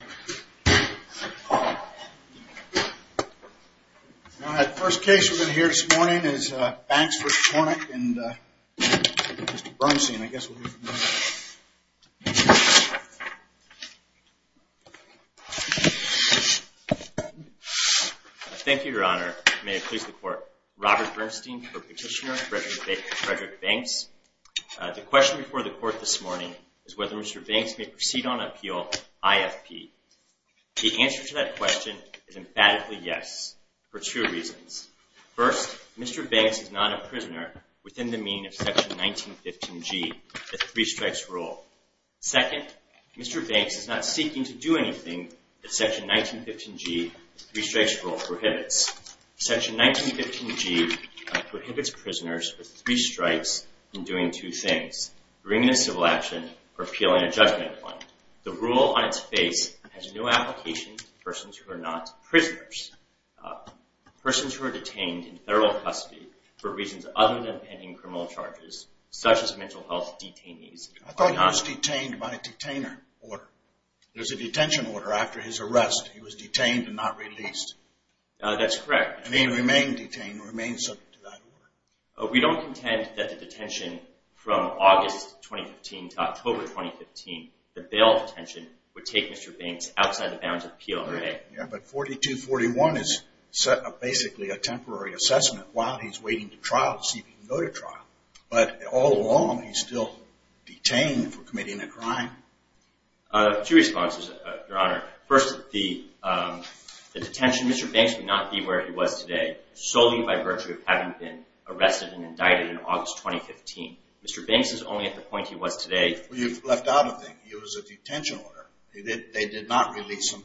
The question before the court this morning is whether Mr. Banks may proceed on appeal IFP. The answer to that question is emphatically yes, for two reasons. First, Mr. Banks is not a prisoner within the meaning of Section 1915G, the Three Strikes Rule. Second, Mr. Banks is not seeking to do anything that Section 1915G, the Three Strikes Rule prohibits. Section 1915G prohibits prisoners with three strikes in doing two things, bringing a civil action or appealing a judgment claim. The rule on its face has no application to persons who are not prisoners. Persons who are detained in federal custody for reasons other than pending criminal charges, such as mental health detainees, are not... I thought he was detained by a detainer order. There's a detention order after his arrest. He was detained and not released. That's correct. And he remained detained, remained subject to that order. We don't contend that the detention from August 2015 to October 2015, the bail detention, would take Mr. Banks outside the bounds of the PLOA. Yeah, but 4241 is basically a temporary assessment while he's waiting to trial to see if he can go to trial. But all along, he's still detained for committing a crime. Two responses, Your Honor. First, the detention, Mr. Banks would not be where he was today solely by virtue of having been arrested and indicted in August 2015. Mr. Banks is only at the point he was today... Well, you've left out a thing. It was a detention order. They did not release him,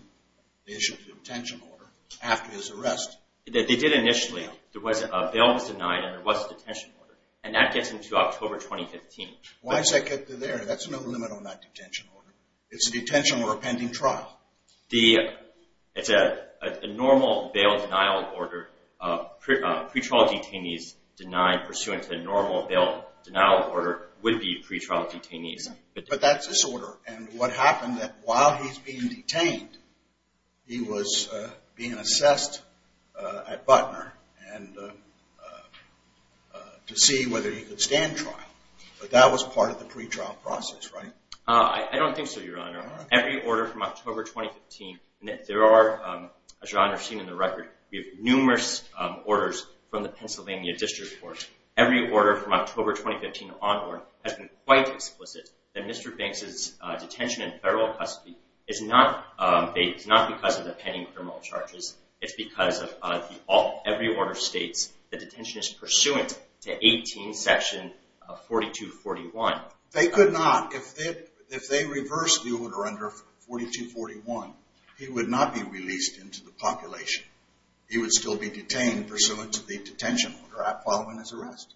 the issue of the detention order, after his arrest. They did initially. There was a bail was denied and there was a detention order. And that gets him to October 2015. Why does that get to there? That's no limit on that detention order. It's a detention or a pending trial. It's a normal bail denial order. Pre-trial detainees denied pursuant to a normal bail denial order would be pre-trial detainees. But that's this order. And what happened that while he's being detained, he was being assessed at Butner to see whether he could stand trial. But that was part of the pre-trial process, right? I don't think so, Your Honor. Every order from October 2015, and there are, as you've seen in the record, we have numerous orders from the Pennsylvania District Court. Every order from October 2015 onward has been quite explicit that Mr. Banks' detention in federal custody is not because of the pending criminal charges. It's because every order states the detention is pursuant to 18 section 4241. They could not. If they reversed the order under 4241, he would not be released into the population. He would still be detained pursuant to the detention order following his arrest.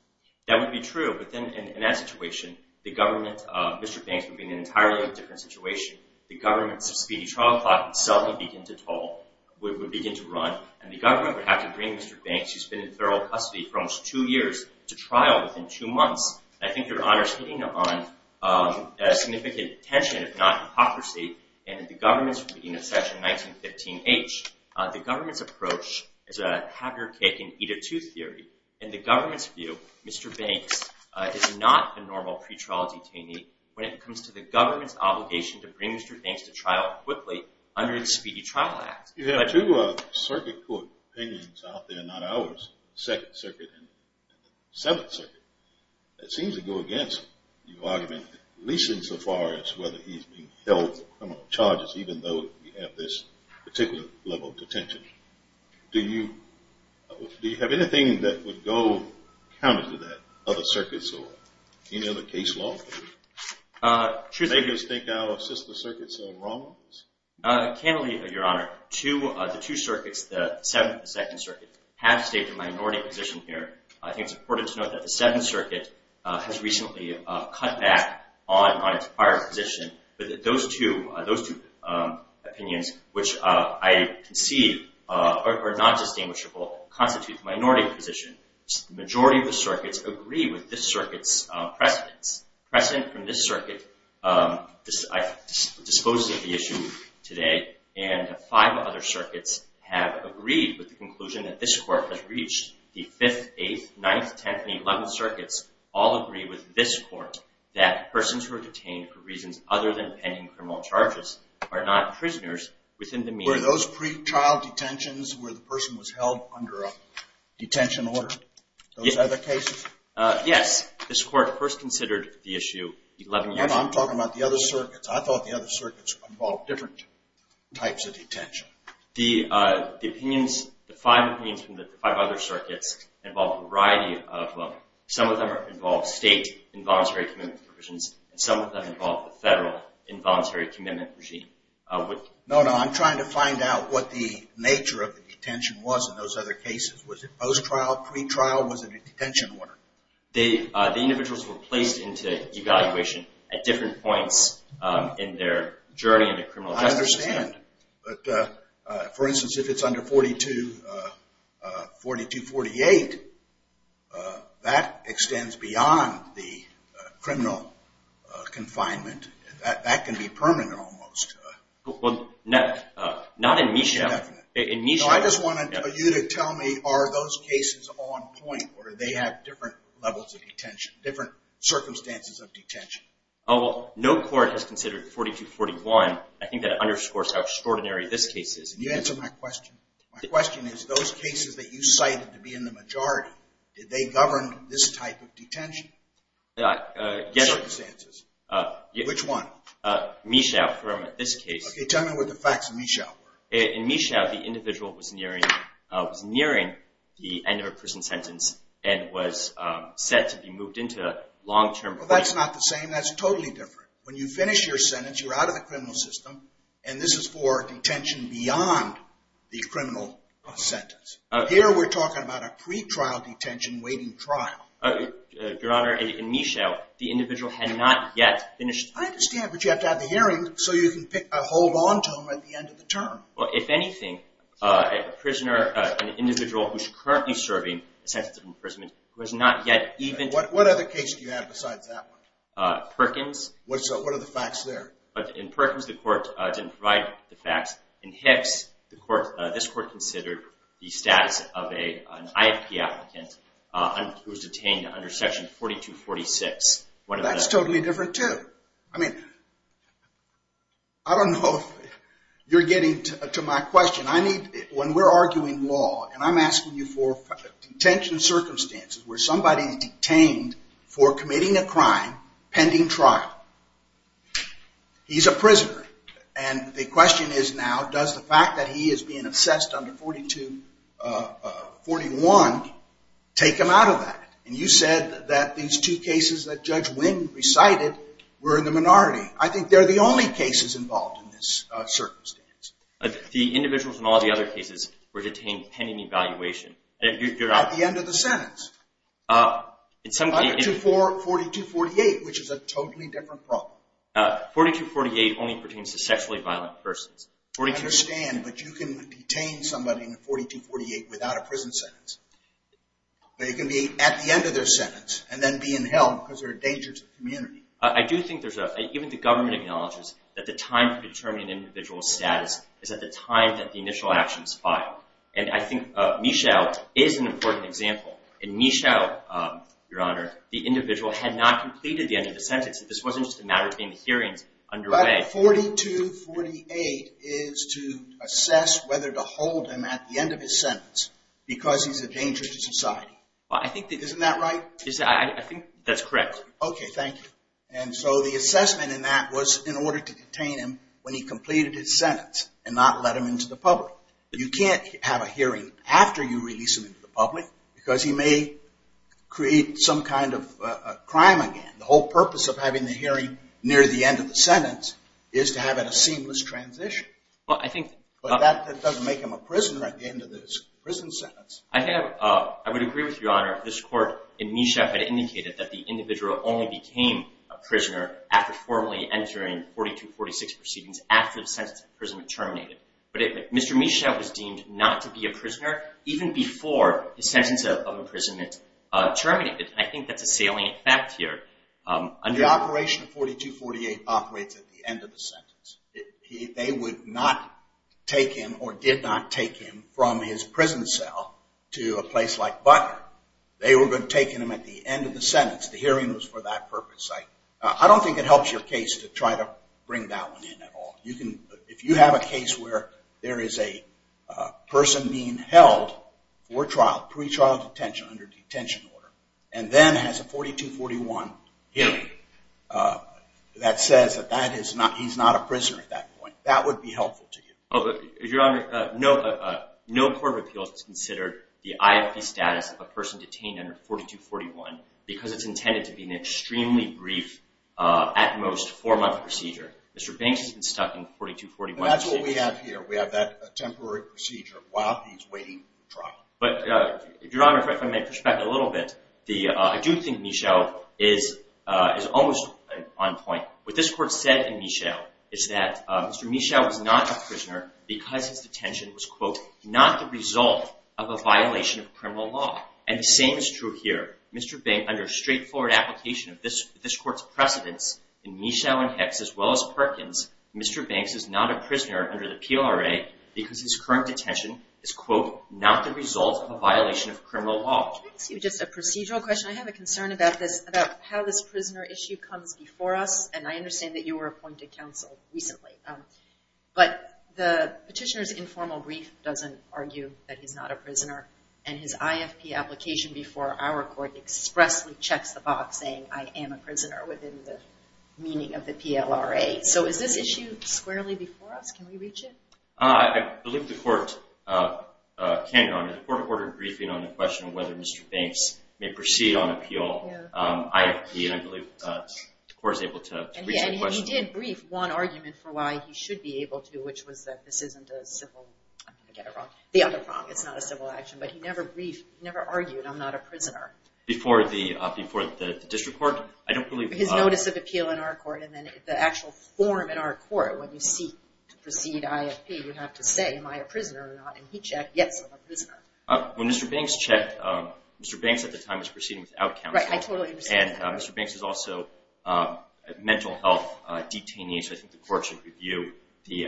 That would be true. But then in that situation, the government, Mr. Banks would be in an entirely different situation. The government's speedy trial clock would suddenly begin to toll, would begin to run, and the government would have to bring Mr. Banks, who's been in federal custody for almost two years, to trial within two months. And I think Your Honor's hitting on a significant tension, if not hypocrisy, in the government's reading of section 1915-H. The government's approach is a have-your-cake-and-eat-a-tooth theory. In the government's view, Mr. Banks is not a normal pre-trial detainee when it comes to the government's obligation to bring Mr. Banks to trial quickly under the Speedy Trial Act. You have two circuit court opinions out there, not ours, the Second Circuit and the Seventh Circuit, that seems to go against your argument, at least insofar as whether he's being held for criminal charges, even though we have this particular level of detention. Do you have anything that would go counter to that, other circuits or any other case law? Truth be told— Make us think our sister circuits are wrong? Candidly, Your Honor, the two circuits, the Seventh and the Second Circuit, have stated minority position here. I think it's important to note that the Seventh Circuit has recently cut back on its prior position. But those two opinions, which I concede are not distinguishable, constitute minority position. The majority of the circuits agree with this circuit's precedent from this circuit. I've disposed of the issue today, and five other circuits have agreed with the conclusion that this court has reached. The Fifth, Eighth, Ninth, Tenth, and Eleventh Circuits all agree with this court that persons who are detained for reasons other than pending criminal charges are not prisoners within the mean— Were those pre-trial detentions where the person was held under a detention order? Those other cases? Yes. This court first considered the issue eleven years ago. I'm talking about the other circuits. I thought the other circuits involved different types of detention. The opinions, the five opinions from the five other circuits involve a variety of—some of them involve state involuntary commitment provisions, and some of them involve the federal involuntary commitment regime. No, no. I'm trying to find out what the nature of the detention was in those other cases. Was it post-trial, pre-trial, or was it a detention order? The individuals were placed into evaluation at different points in their journey into criminal justice. I understand. But, for instance, if it's under 4248, that extends beyond the criminal confinement. That can be permanent almost. Well, not in MISHA. I just wanted you to tell me, are those cases on point, or do they have different levels of detention, different circumstances of detention? Oh, well, no court has considered 4241. I think that underscores how extraordinary this case is. Can you answer my question? My question is, those cases that you cited to be in the majority, did they govern this type of detention? Yes. The circumstances. Which one? MISHA, from this case. Okay, tell me what the facts of MISHA were. In MISHA, the individual was nearing the end of a prison sentence and was set to be moved into a long-term... Well, that's not the same. That's totally different. When you finish your sentence, you're out of the criminal system, and this is for detention beyond the criminal sentence. Here, we're talking about a pre-trial detention, waiting trial. Your Honor, in MISHA, the individual had not yet finished... I understand, but you have to have the hearing so you can hold on to him at the end of the term. Well, if anything, a prisoner, an individual who's currently serving a sentence of imprisonment, who has not yet even... What other case do you have besides that one? Perkins. What are the facts there? In Perkins, the court didn't provide the facts. In Hicks, this court considered the status of an IFP applicant who was detained under section 4246. That's totally different, too. I mean, I don't know if you're getting to my question. When we're arguing law, and I'm asking you for detention circumstances where somebody is detained for committing a crime pending trial, he's a prisoner. And the question is now, does the fact that he is being assessed under 4241 take him out of that? And you said that these two cases that Judge Wynn recited were in the minority. I think they're the only cases involved in this circumstance. The individuals in all the other cases were detained pending evaluation. At the end of the sentence. Under 4248, which is a totally different problem. 4248 only pertains to sexually violent persons. I understand, but you can detain somebody in 4248 without a prison sentence. They can be at the end of their sentence and then be in hell because they're a danger to the community. I do think there's a, even the government acknowledges that the time to determine an individual's status is at the time that the initial action is filed. And I think Michaud is an important example. In Michaud, Your Honor, the individual had not completed the end of the sentence. This wasn't just a matter of being hearings underway. 4248 is to assess whether to hold him at the end of his sentence because he's a danger to society. Isn't that right? I think that's correct. Okay, thank you. And so the assessment in that was in order to detain him when he completed his sentence and not let him into the public. You can't have a hearing after you release him into the public because he may create some kind of crime again. The whole purpose of having the hearing near the end of the sentence is to have a seamless transition. But that doesn't make him a prisoner at the end of his prison sentence. I would agree with Your Honor. This court in Michaud had indicated that the individual only became a prisoner after formally entering 4246 proceedings after the sentence of imprisonment terminated. But Mr. Michaud was deemed not to be a prisoner even before the sentence of imprisonment terminated. I think that's a salient fact here. The operation of 4248 operates at the end of the sentence. They would not take him or did not take him from his prison cell to a place like Butler. They were going to take him at the end of the sentence. The hearing was for that purpose. I don't think it helps your case to try to bring that one in at all. If you have a case where there is a person being held for trial, pre-trial detention under detention order, and then has a 4241 hearing that says that he's not a prisoner at that point, that would be helpful to you. Your Honor, no court of appeals has considered the IFP status of a person detained under 4241 because it's intended to be an extremely brief, at most four-month procedure. Mr. Banks has been stuck in 4241. That's what we have here. We have that temporary procedure while he's waiting for trial. Your Honor, if I may push back a little bit, I do think Michaud is almost on point. What this Court said in Michaud is that Mr. Michaud was not a prisoner because his detention was, quote, not the result of a violation of criminal law. And the same is true here. Mr. Banks, under straightforward application of this Court's precedence in Michaud and Hicks as well as Perkins, Mr. Banks is not a prisoner under the PRA because his current detention is, quote, not the result of a violation of criminal law. Can I ask you just a procedural question? I have a concern about this, about how this prisoner issue comes before us, and I understand that you were appointed counsel recently. But the petitioner's informal brief doesn't argue that he's not a prisoner, and his IFP application before our Court expressly checks the box saying, I am a prisoner within the meaning of the PLRA. So is this issue squarely before us? Can we reach it? I believe the Court can, Your Honor. The Court ordered a briefing on the question of whether Mr. Banks may proceed on appeal IFP, and I believe the Court was able to reach that question. And he did brief one argument for why he should be able to, which was that this isn't a civil, I'm going to get it wrong, the other problem, it's not a civil action, but he never argued I'm not a prisoner. Before the district court? His notice of appeal in our court and then the actual form in our court, when you seek to proceed IFP, you have to say, am I a prisoner or not? And he checked, yes, I'm a prisoner. When Mr. Banks checked, Mr. Banks at the time was proceeding without counsel. Right, I totally understand that. And Mr. Banks is also a mental health detainee, so I think the Court should review the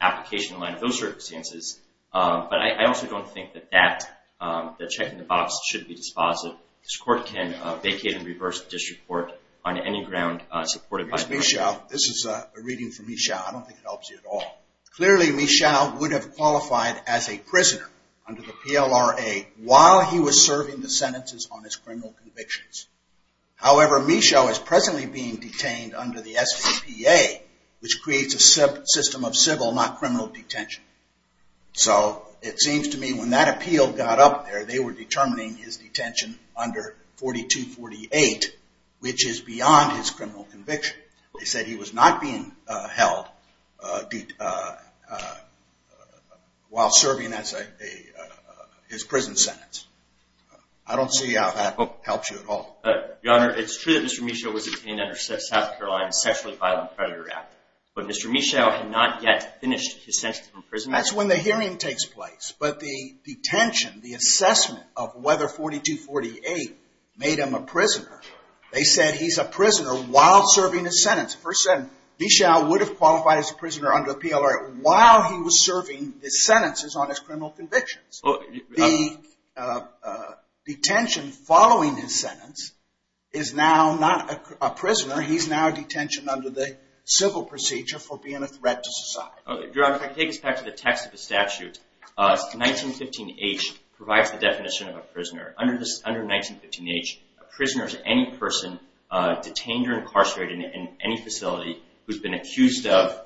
application. But I also don't think that that, that checking the box should be dispositive. This Court can vacate and reverse the district court on any ground supported by the Court. This is a reading from Michaud. I don't think it helps you at all. Clearly, Michaud would have qualified as a prisoner under the PLRA while he was serving the sentences on his criminal convictions. However, Michaud is presently being detained under the SEPA, which creates a system of civil, not criminal, detention. So it seems to me when that appeal got up there, they were determining his detention under 4248, which is beyond his criminal conviction. They said he was not being held while serving his prison sentence. I don't see how that helps you at all. Your Honor, it's true that Mr. Michaud was detained under South Carolina's sexually violent predator act. But Mr. Michaud had not yet finished his sentence from prison. That's when the hearing takes place. But the detention, the assessment of whether 4248 made him a prisoner, they said he's a prisoner while serving his sentence. Michaud would have qualified as a prisoner under the PLRA while he was serving his sentences on his criminal convictions. The detention following his sentence is now not a prisoner. He's now detention under the civil procedure for being a threat to society. Your Honor, if I could take us back to the text of the statute, 1915H provides the definition of a prisoner. Under 1915H, a prisoner is any person detained or incarcerated in any facility who's been accused of,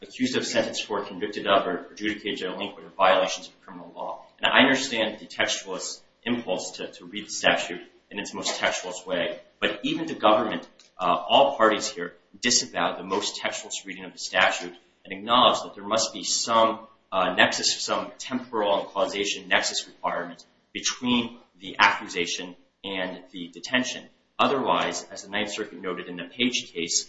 accused of, sentenced for, convicted of, or adjudicated or delinquent of violations of criminal law. And I understand the textualist impulse to read the statute in its most textualist way. But even the government, all parties here, disavow the most textualist reading of the statute and acknowledge that there must be some nexus, some temporal and causation nexus requirement between the accusation and the detention. Otherwise, as the Ninth Circuit noted in the Page case,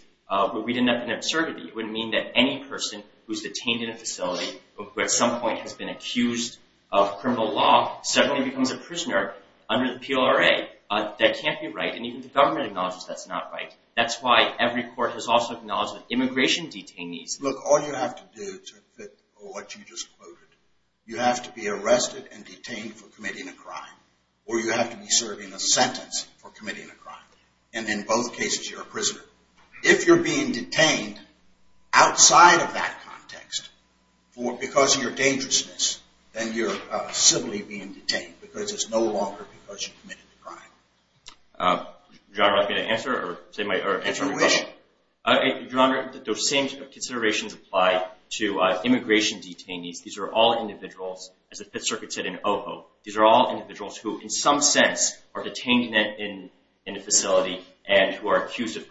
we'd end up in absurdity. It would mean that any person who's detained in a facility or who at some point has been accused of criminal law suddenly becomes a prisoner under the PLRA. That can't be right, and even the government acknowledges that's not right. That's why every court has also acknowledged that immigration detainees... Look, all you have to do to fit what you just quoted, you have to be arrested and detained for committing a crime, or you have to be serving a sentence for committing a crime. And in both cases, you're a prisoner. If you're being detained outside of that context because of your dangerousness, then you're simply being detained because it's no longer because you committed the crime. Your Honor, I'm not going to answer or say my... Answer your question. Your Honor, those same considerations apply to immigration detainees. These are all individuals, as the Fifth Circuit said in OVO, these are all individuals who, in some sense, are detained in a facility and who are accused of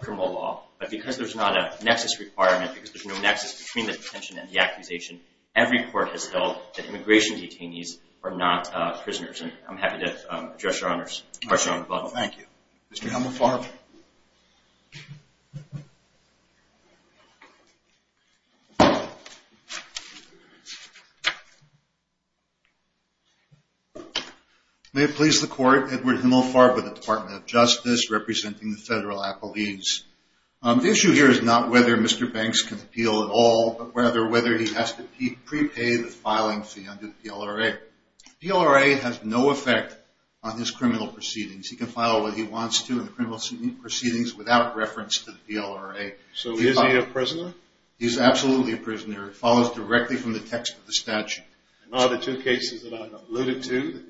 criminal law. But because there's not a nexus requirement, because there's no nexus between the detention and the accusation, every court has felt that immigration detainees are not prisoners. And I'm happy to address your question, Your Honor. Thank you. Mr. Hummel-Farber. May it please the Court, Edward Hummel-Farber, the Department of Justice, representing the federal appellees. The issue here is not whether Mr. Banks can appeal at all, but rather whether he has to prepay the filing fee under the DLRA. The DLRA has no effect on his criminal proceedings. He can file what he wants to in the criminal proceedings without reference to the DLRA. So is he a prisoner? It follows directly from the text of the statute. And are the two cases that I alluded to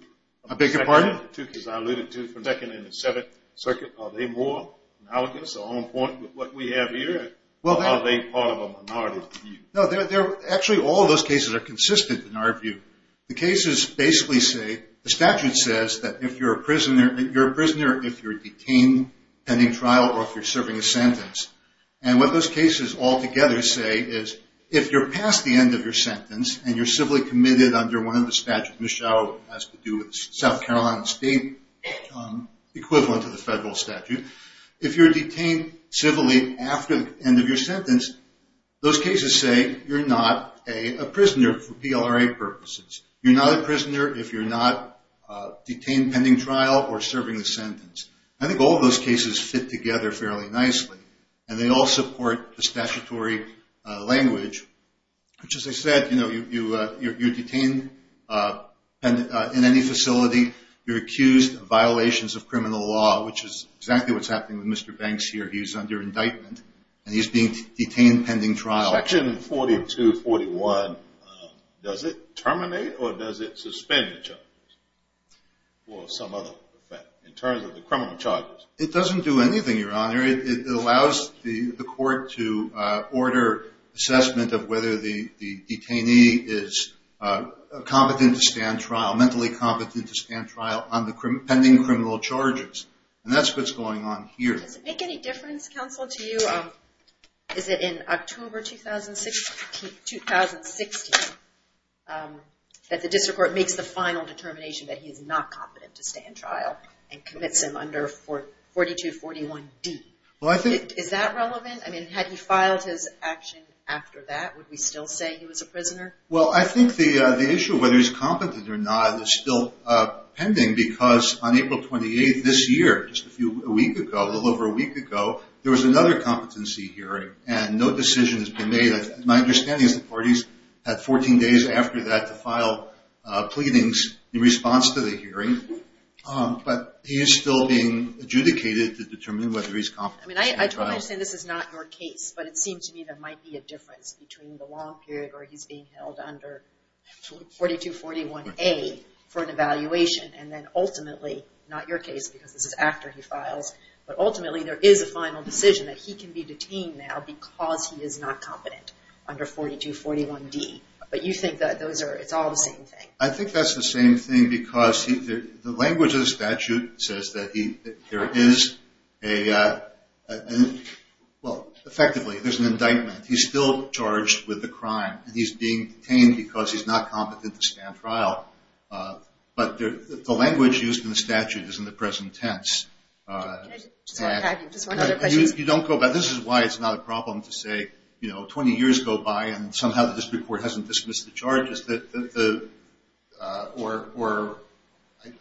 from the Second and the Seventh Circuit, are they more analogous or on point with what we have here, or are they part of a minority view? No, actually all those cases are consistent in our view. The cases basically say, the statute says that you're a prisoner if you're detained pending trial or if you're serving a sentence. And what those cases all together say is, if you're past the end of your sentence and you're civilly committed under one of the statutes, Michelle has to do with South Carolina State, equivalent to the federal statute, if you're detained civilly after the end of your sentence, those cases say you're not a prisoner for DLRA purposes. You're not a prisoner if you're not detained pending trial or serving a sentence. I think all those cases fit together fairly nicely, and they all support the statutory language, which as I said, you're detained in any facility. You're accused of violations of criminal law, which is exactly what's happening with Mr. Banks here. He was under indictment, and he's being detained pending trial. Section 4241, does it terminate or does it suspend the charges, or some other effect in terms of the criminal charges? It doesn't do anything, Your Honor. It allows the court to order assessment of whether the detainee is competent to stand trial, mentally competent to stand trial on the pending criminal charges. And that's what's going on here. Does it make any difference, counsel, to you, is it in October 2016, that the district court makes the final determination that he is not competent to stand trial and commits him under 4241D? Is that relevant? Had he filed his action after that, would we still say he was a prisoner? Well, I think the issue of whether he's competent or not is still pending because on April 28th this year, just a little over a week ago, there was another competency hearing, and no decision has been made. My understanding is the parties had 14 days after that to file pleadings in response to the hearing. But he is still being adjudicated to determine whether he's competent to stand trial. I mean, I totally understand this is not your case, but it seems to me there might be a difference between the long period where he's being held under 4241A for an evaluation and then ultimately, not your case because this is after he files, but ultimately there is a final decision that he can be detained now because he is not competent under 4241D. But you think that it's all the same thing? I think that's the same thing because the language of the statute says that there is a – well, effectively, there's an indictment. He's still charged with the crime, and he's being detained because he's not competent to stand trial. But the language used in the statute is in the present tense. Can I just one other question? You don't go back. This is why it's not a problem to say, you know, 20 years go by and somehow the district court hasn't dismissed the charges. Or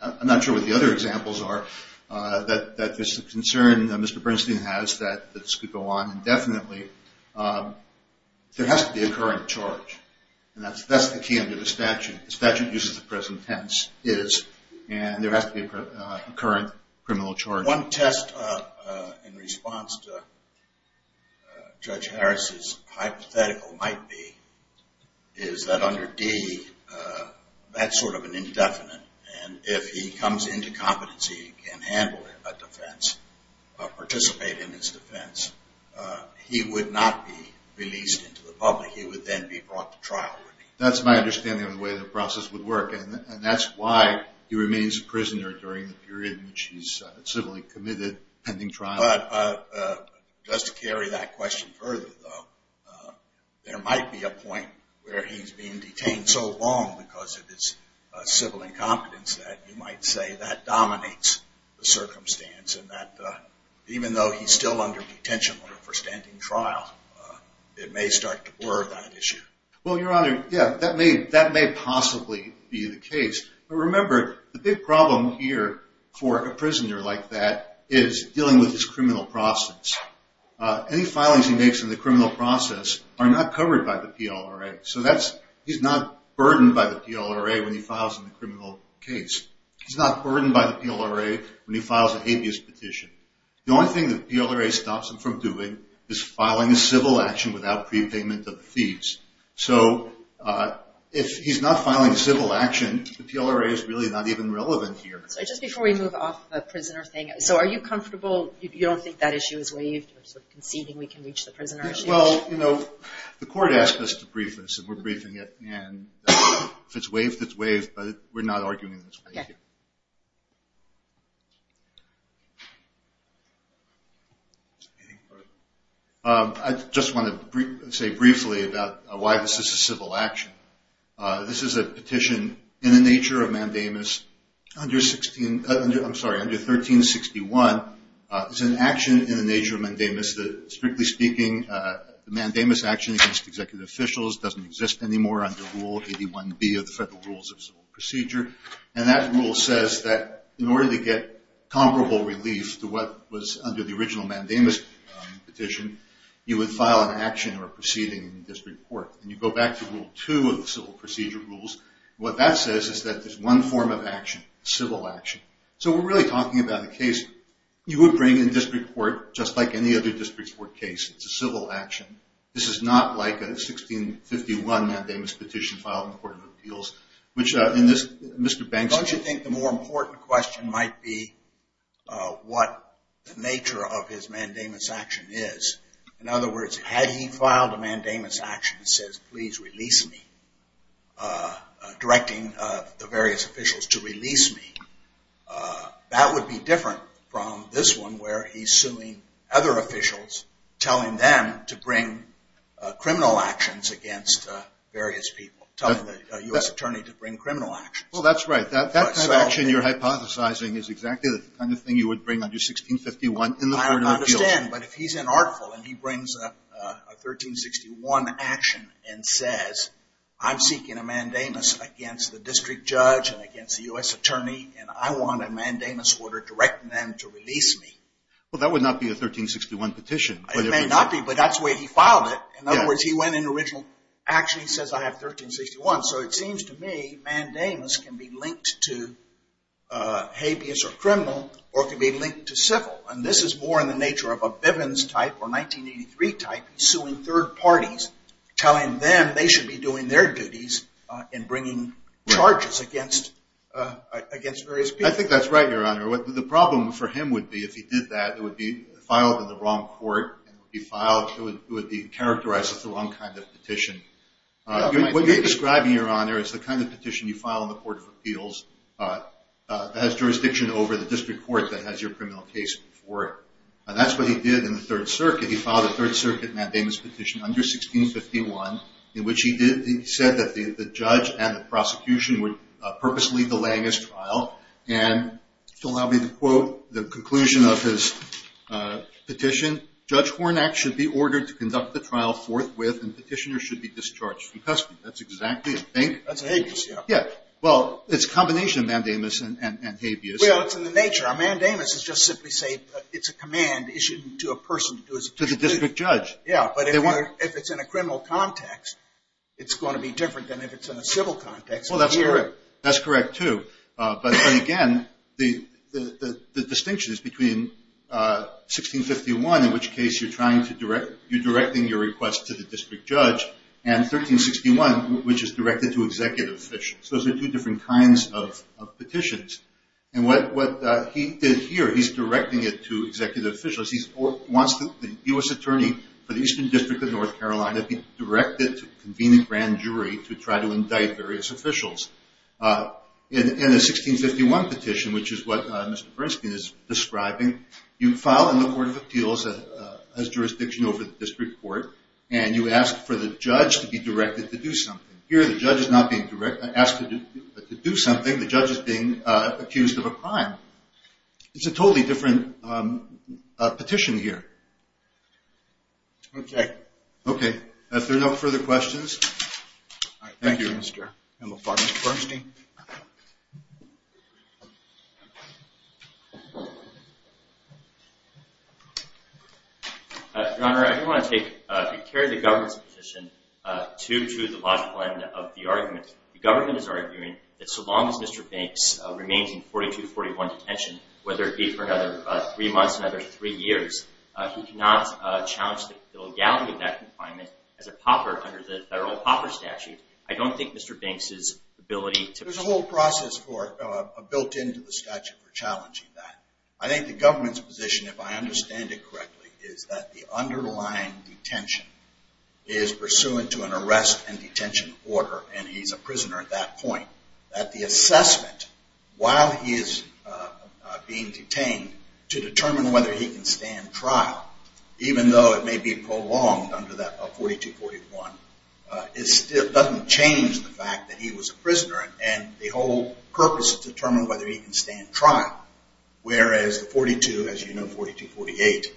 I'm not sure what the other examples are, that there's a concern that Mr. Bernstein has that this could go on indefinitely. There has to be a current charge, and that's the key under the statute. The statute uses the present tense, and there has to be a current criminal charge. One test in response to Judge Harris's hypothetical might be is that under D, that's sort of an indefinite, and if he comes into competency and can handle a defense, participate in his defense, he would not be released into the public. He would then be brought to trial. That's my understanding of the way the process would work, and that's why he remains a prisoner during the period in which he's civilly committed, pending trial. But just to carry that question further, though, there might be a point where he's being detained so long because of his civil incompetence that you might say that dominates the circumstance, and that even though he's still under detention for standing trial, it may start to blur that issue. Well, Your Honor, yeah, that may possibly be the case. But remember, the big problem here for a prisoner like that is dealing with his criminal process. Any filings he makes in the criminal process are not covered by the PLRA. So he's not burdened by the PLRA when he files a criminal case. He's not burdened by the PLRA when he files a habeas petition. The only thing the PLRA stops him from doing is filing a civil action without prepayment of the fees. So if he's not filing a civil action, the PLRA is really not even relevant here. So just before we move off the prisoner thing, so are you comfortable you don't think that issue is waived or sort of conceding we can reach the prisoner issue? Well, you know, the court asked us to brief this, and we're briefing it, and if it's waived, it's waived, but we're not arguing it's waived here. I just want to say briefly about why this is a civil action. This is a petition in the nature of mandamus under 1361. It's an action in the nature of mandamus that, strictly speaking, the mandamus action against executive officials doesn't exist anymore under Rule 81B of the Federal Rules of Civil Procedure. And that rule says that in order to get comparable relief to what was under the original mandamus petition, you would file an action or a proceeding in district court. And you go back to Rule 2 of the Civil Procedure Rules. What that says is that there's one form of action, civil action. So we're really talking about a case you would bring in district court, just like any other district court case. It's a civil action. This is not like a 1651 mandamus petition filed in the Court of Appeals, which in this, Mr. Banks. Don't you think the more important question might be what the nature of his mandamus action is? In other words, had he filed a mandamus action that says, please release me, directing the various officials to release me, that would be different from this one, where he's suing other officials, telling them to bring criminal actions against various people, telling the U.S. attorney to bring criminal actions. Well, that's right. That kind of action you're hypothesizing is exactly the kind of thing you would bring under 1651 in the Court of Appeals. I understand. But if he's an article and he brings a 1361 action and says, I'm seeking a mandamus against the district judge and against the U.S. attorney, and I want a mandamus order directing them to release me. Well, that would not be a 1361 petition. It may not be, but that's the way he filed it. In other words, he went in original action. He says, I have 1361. So it seems to me mandamus can be linked to habeas or criminal or it can be linked to civil. And this is more in the nature of a Bivens type or 1983 type, suing third parties, telling them they should be doing their duties in bringing charges against various people. I think that's right, Your Honor. The problem for him would be if he did that, it would be filed in the wrong court. It would be characterized as the wrong kind of petition. What you're describing, Your Honor, is the kind of petition you file in the Court of Appeals that has jurisdiction over the district court that has your criminal case before it. And that's what he did in the Third Circuit. He filed a Third Circuit mandamus petition under 1651 in which he said that the judge and the prosecution were purposely delaying his trial. And to allow me to quote the conclusion of his petition, Judge Hornak should be ordered to conduct the trial forthwith and petitioner should be discharged from custody. That's exactly, I think. That's habeas, yeah. Yeah. Well, it's a combination of mandamus and habeas. Well, it's in the nature. A mandamus is just simply saying it's a command issued to a person to do his duty. To the district judge. Yeah, but if it's in a criminal context, it's going to be different than if it's in a civil context. Well, that's correct. That's correct, too. But, again, the distinction is between 1651, in which case you're directing your request to the district judge, and 1361, which is directed to executive officials. Those are two different kinds of petitions. And what he did here, he's directing it to executive officials. He wants the U.S. attorney for the Eastern District of North Carolina to be directed to convene a grand jury to try to indict various officials. In the 1651 petition, which is what Mr. Bernstein is describing, you file in the Court of Appeals as jurisdiction over the district court, and you ask for the judge to be directed to do something. Here, the judge is not being asked to do something. The judge is being accused of a crime. It's a totally different petition here. Okay. Okay. If there are no further questions, thank you. Thank you, Mr. McFarland. Mr. Bernstein. Your Honor, I do want to take care of the government's position to the logical end of the argument. The government is arguing that so long as Mr. Banks remains in 4241 detention, whether it be for another three months, another three years, he cannot challenge the legality of that confinement as a pauper under the Federal Pauper Statute. I don't think Mr. Banks' ability to… There's a whole process built into the statute for challenging that. I think the government's position, if I understand it correctly, is that the underlying detention is pursuant to an arrest and detention order, and he's a prisoner at that point, that the assessment while he is being detained to determine whether he can stand trial, even though it may be prolonged under that 4241, it still doesn't change the fact that he was a prisoner and the whole purpose is to determine whether he can stand trial, whereas the 42, as you know, 4248,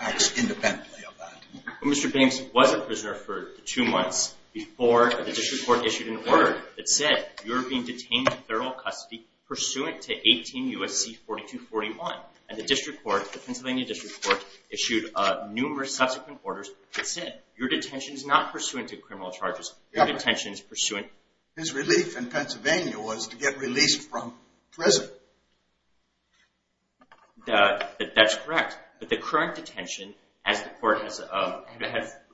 acts independently of that. Mr. Banks was a prisoner for two months before the district court issued an order that said you are being detained to federal custody pursuant to 18 U.S.C. 4241, and the district court, the Pennsylvania district court, issued numerous subsequent orders that said your detention is not pursuant to criminal charges, your detention is pursuant… His relief in Pennsylvania was to get released from prison. That's correct, but the current detention, as the court has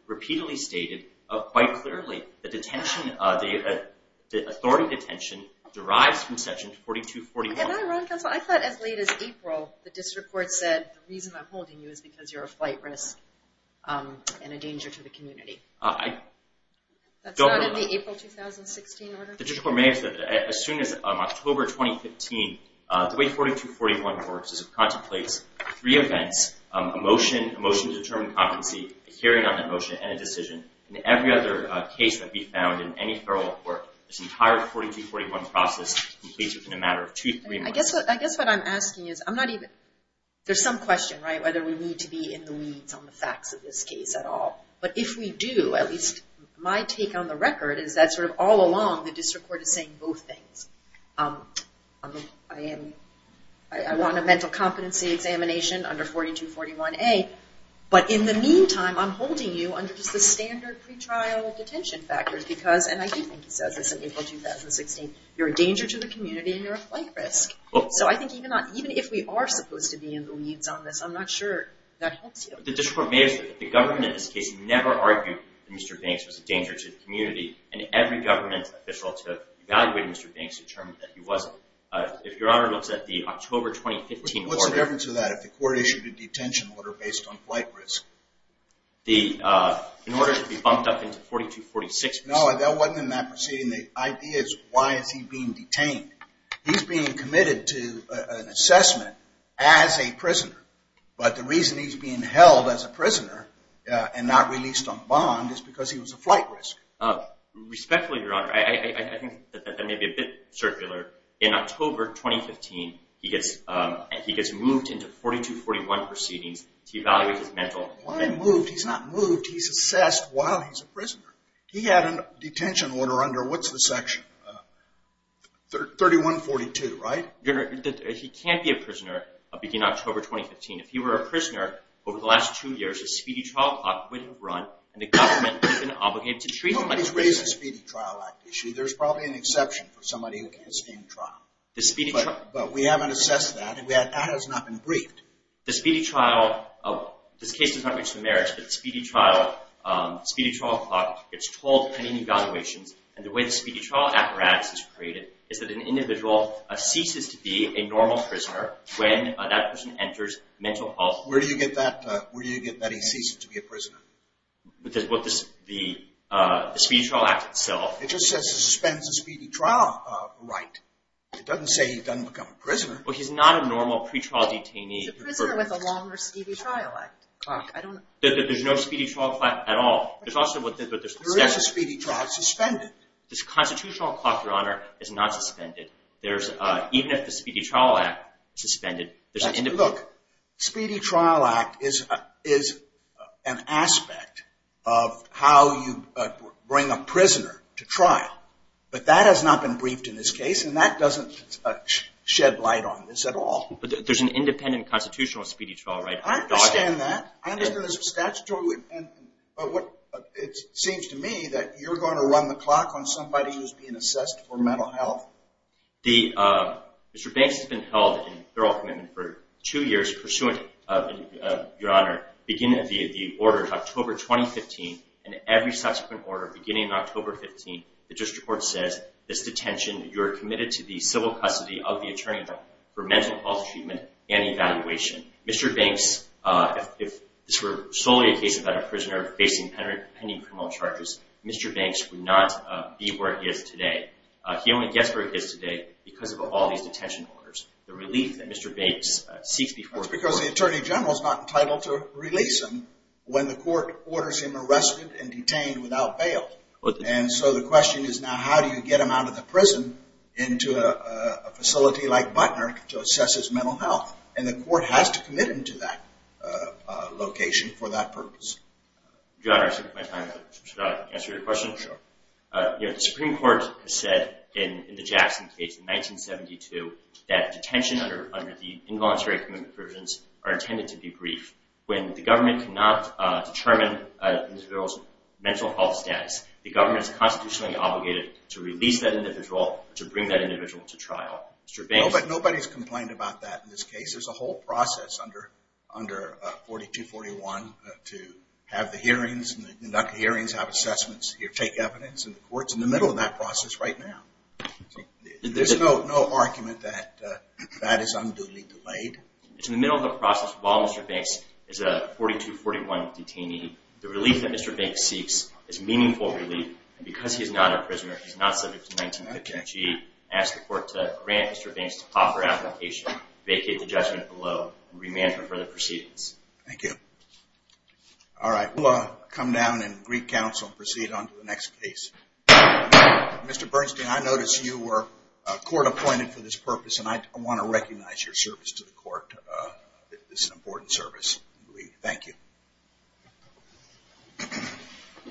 repeatedly stated quite clearly, the authority detention derives from section 4241. I thought as late as April, the district court said the reason I'm holding you is because you're a flight risk and a danger to the community. That's not in the April 2016 order? The district court may have said that. As soon as October 2015, the way 4241 works is it contemplates three events, a motion to determine competency, a hearing on that motion, and a decision. In every other case that can be found in any federal court, this entire 4241 process completes within a matter of two, three months. I guess what I'm asking is, there's some question, right, whether we need to be in the weeds on the facts of this case at all. But if we do, at least my take on the record is that all along, the district court is saying both things. I want a mental competency examination under 4241A, but in the meantime, I'm holding you under just the standard pretrial detention factors because, and I do think he says this in April 2016, you're a danger to the community and you're a flight risk. So I think even if we are supposed to be in the weeds on this, I'm not sure that helps you. The district court may have said that the government in this case never argued that Mr. Banks was a danger to the community, and every government official to evaluate Mr. Banks determined that he wasn't. If Your Honor looks at the October 2015 order... What's the difference of that if the court issued a detention order based on flight risk? In order to be bumped up into 4246... No, that wasn't in that proceeding. The idea is why is he being detained? He's being committed to an assessment as a prisoner, but the reason he's being held as a prisoner and not released on bond is because he was a flight risk. Respectfully, Your Honor, I think that that may be a bit circular. In October 2015, he gets moved into 4241 proceedings to evaluate his mental... Why moved? He's not moved. He's assessed while he's a prisoner. He had a detention order under what's the section? 3142, right? Your Honor, he can't be a prisoner beginning October 2015. If he were a prisoner over the last two years, a speedy trial clock wouldn't run, and the government would have been obligated to treat him like a prisoner. Nobody's raised the Speedy Trial Act issue. There's probably an exception for somebody who can't stand trial. But we haven't assessed that, and that has not been briefed. The speedy trial... This case does not reach the merits, but the speedy trial clock gets told pending evaluations, and the way the speedy trial apparatus is created is that an individual ceases to be a normal prisoner when that person enters mental health... Where do you get that he ceases to be a prisoner? The speedy trial act itself. It just says it suspends the speedy trial right. It doesn't say he doesn't become a prisoner. Well, he's not a normal pretrial detainee. He's a prisoner with a longer speedy trial clock. There's no speedy trial clock at all. There is a speedy trial. It's suspended. The constitutional clock, Your Honor, is not suspended. Even if the speedy trial act is suspended... Look, speedy trial act is an aspect of how you bring a prisoner to trial, but that has not been briefed in this case, and that doesn't shed light on this at all. But there's an independent constitutional speedy trial right. I understand that. I understand there's a statutory... It seems to me that you're going to run the clock on somebody who's being assessed for mental health. Mr. Banks has been held in feral commitment for two years pursuant, Your Honor, beginning of the order of October 2015, and every subsequent order beginning of October 15, the district court says, this detention, you're committed to the civil custody of the attorney general for mental health treatment and evaluation. Mr. Banks, if this were solely a case about a prisoner facing pending criminal charges, Mr. Banks would not be where he is today. He only gets where he is today because of all these detention orders. The relief that Mr. Banks seeks before court... That's because the attorney general is not entitled to release him when the court orders him arrested and detained without bail. And so the question is now, how do you get him out of the prison into a facility like Butner to assess his mental health? And the court has to commit him to that location for that purpose. Your Honor, should I answer your question? Sure. The Supreme Court has said in the Jackson case in 1972 that detention under the involuntary commitment provisions are intended to be brief. When the government cannot determine an individual's mental health status, the government is constitutionally obligated to release that individual or to bring that individual to trial. But nobody's complained about that in this case. There's a whole process under 4241 to have the hearings, conduct the hearings, have assessments, take evidence, and the court's in the middle of that process right now. There's no argument that that is unduly delayed. It's in the middle of the process. While Mr. Banks is a 4241 detainee, the relief that Mr. Banks seeks is meaningful relief. And because he's not a prisoner, he's not subject to 1915 G, I ask the court to grant Mr. Banks the proper application, vacate the judgment below, and remand for further proceedings. Thank you. All right. We'll come down and greet counsel and proceed on to the next case. Mr. Bernstein, I notice you were court appointed for this purpose, and I want to recognize your service to the court. This is an important service. Thank you.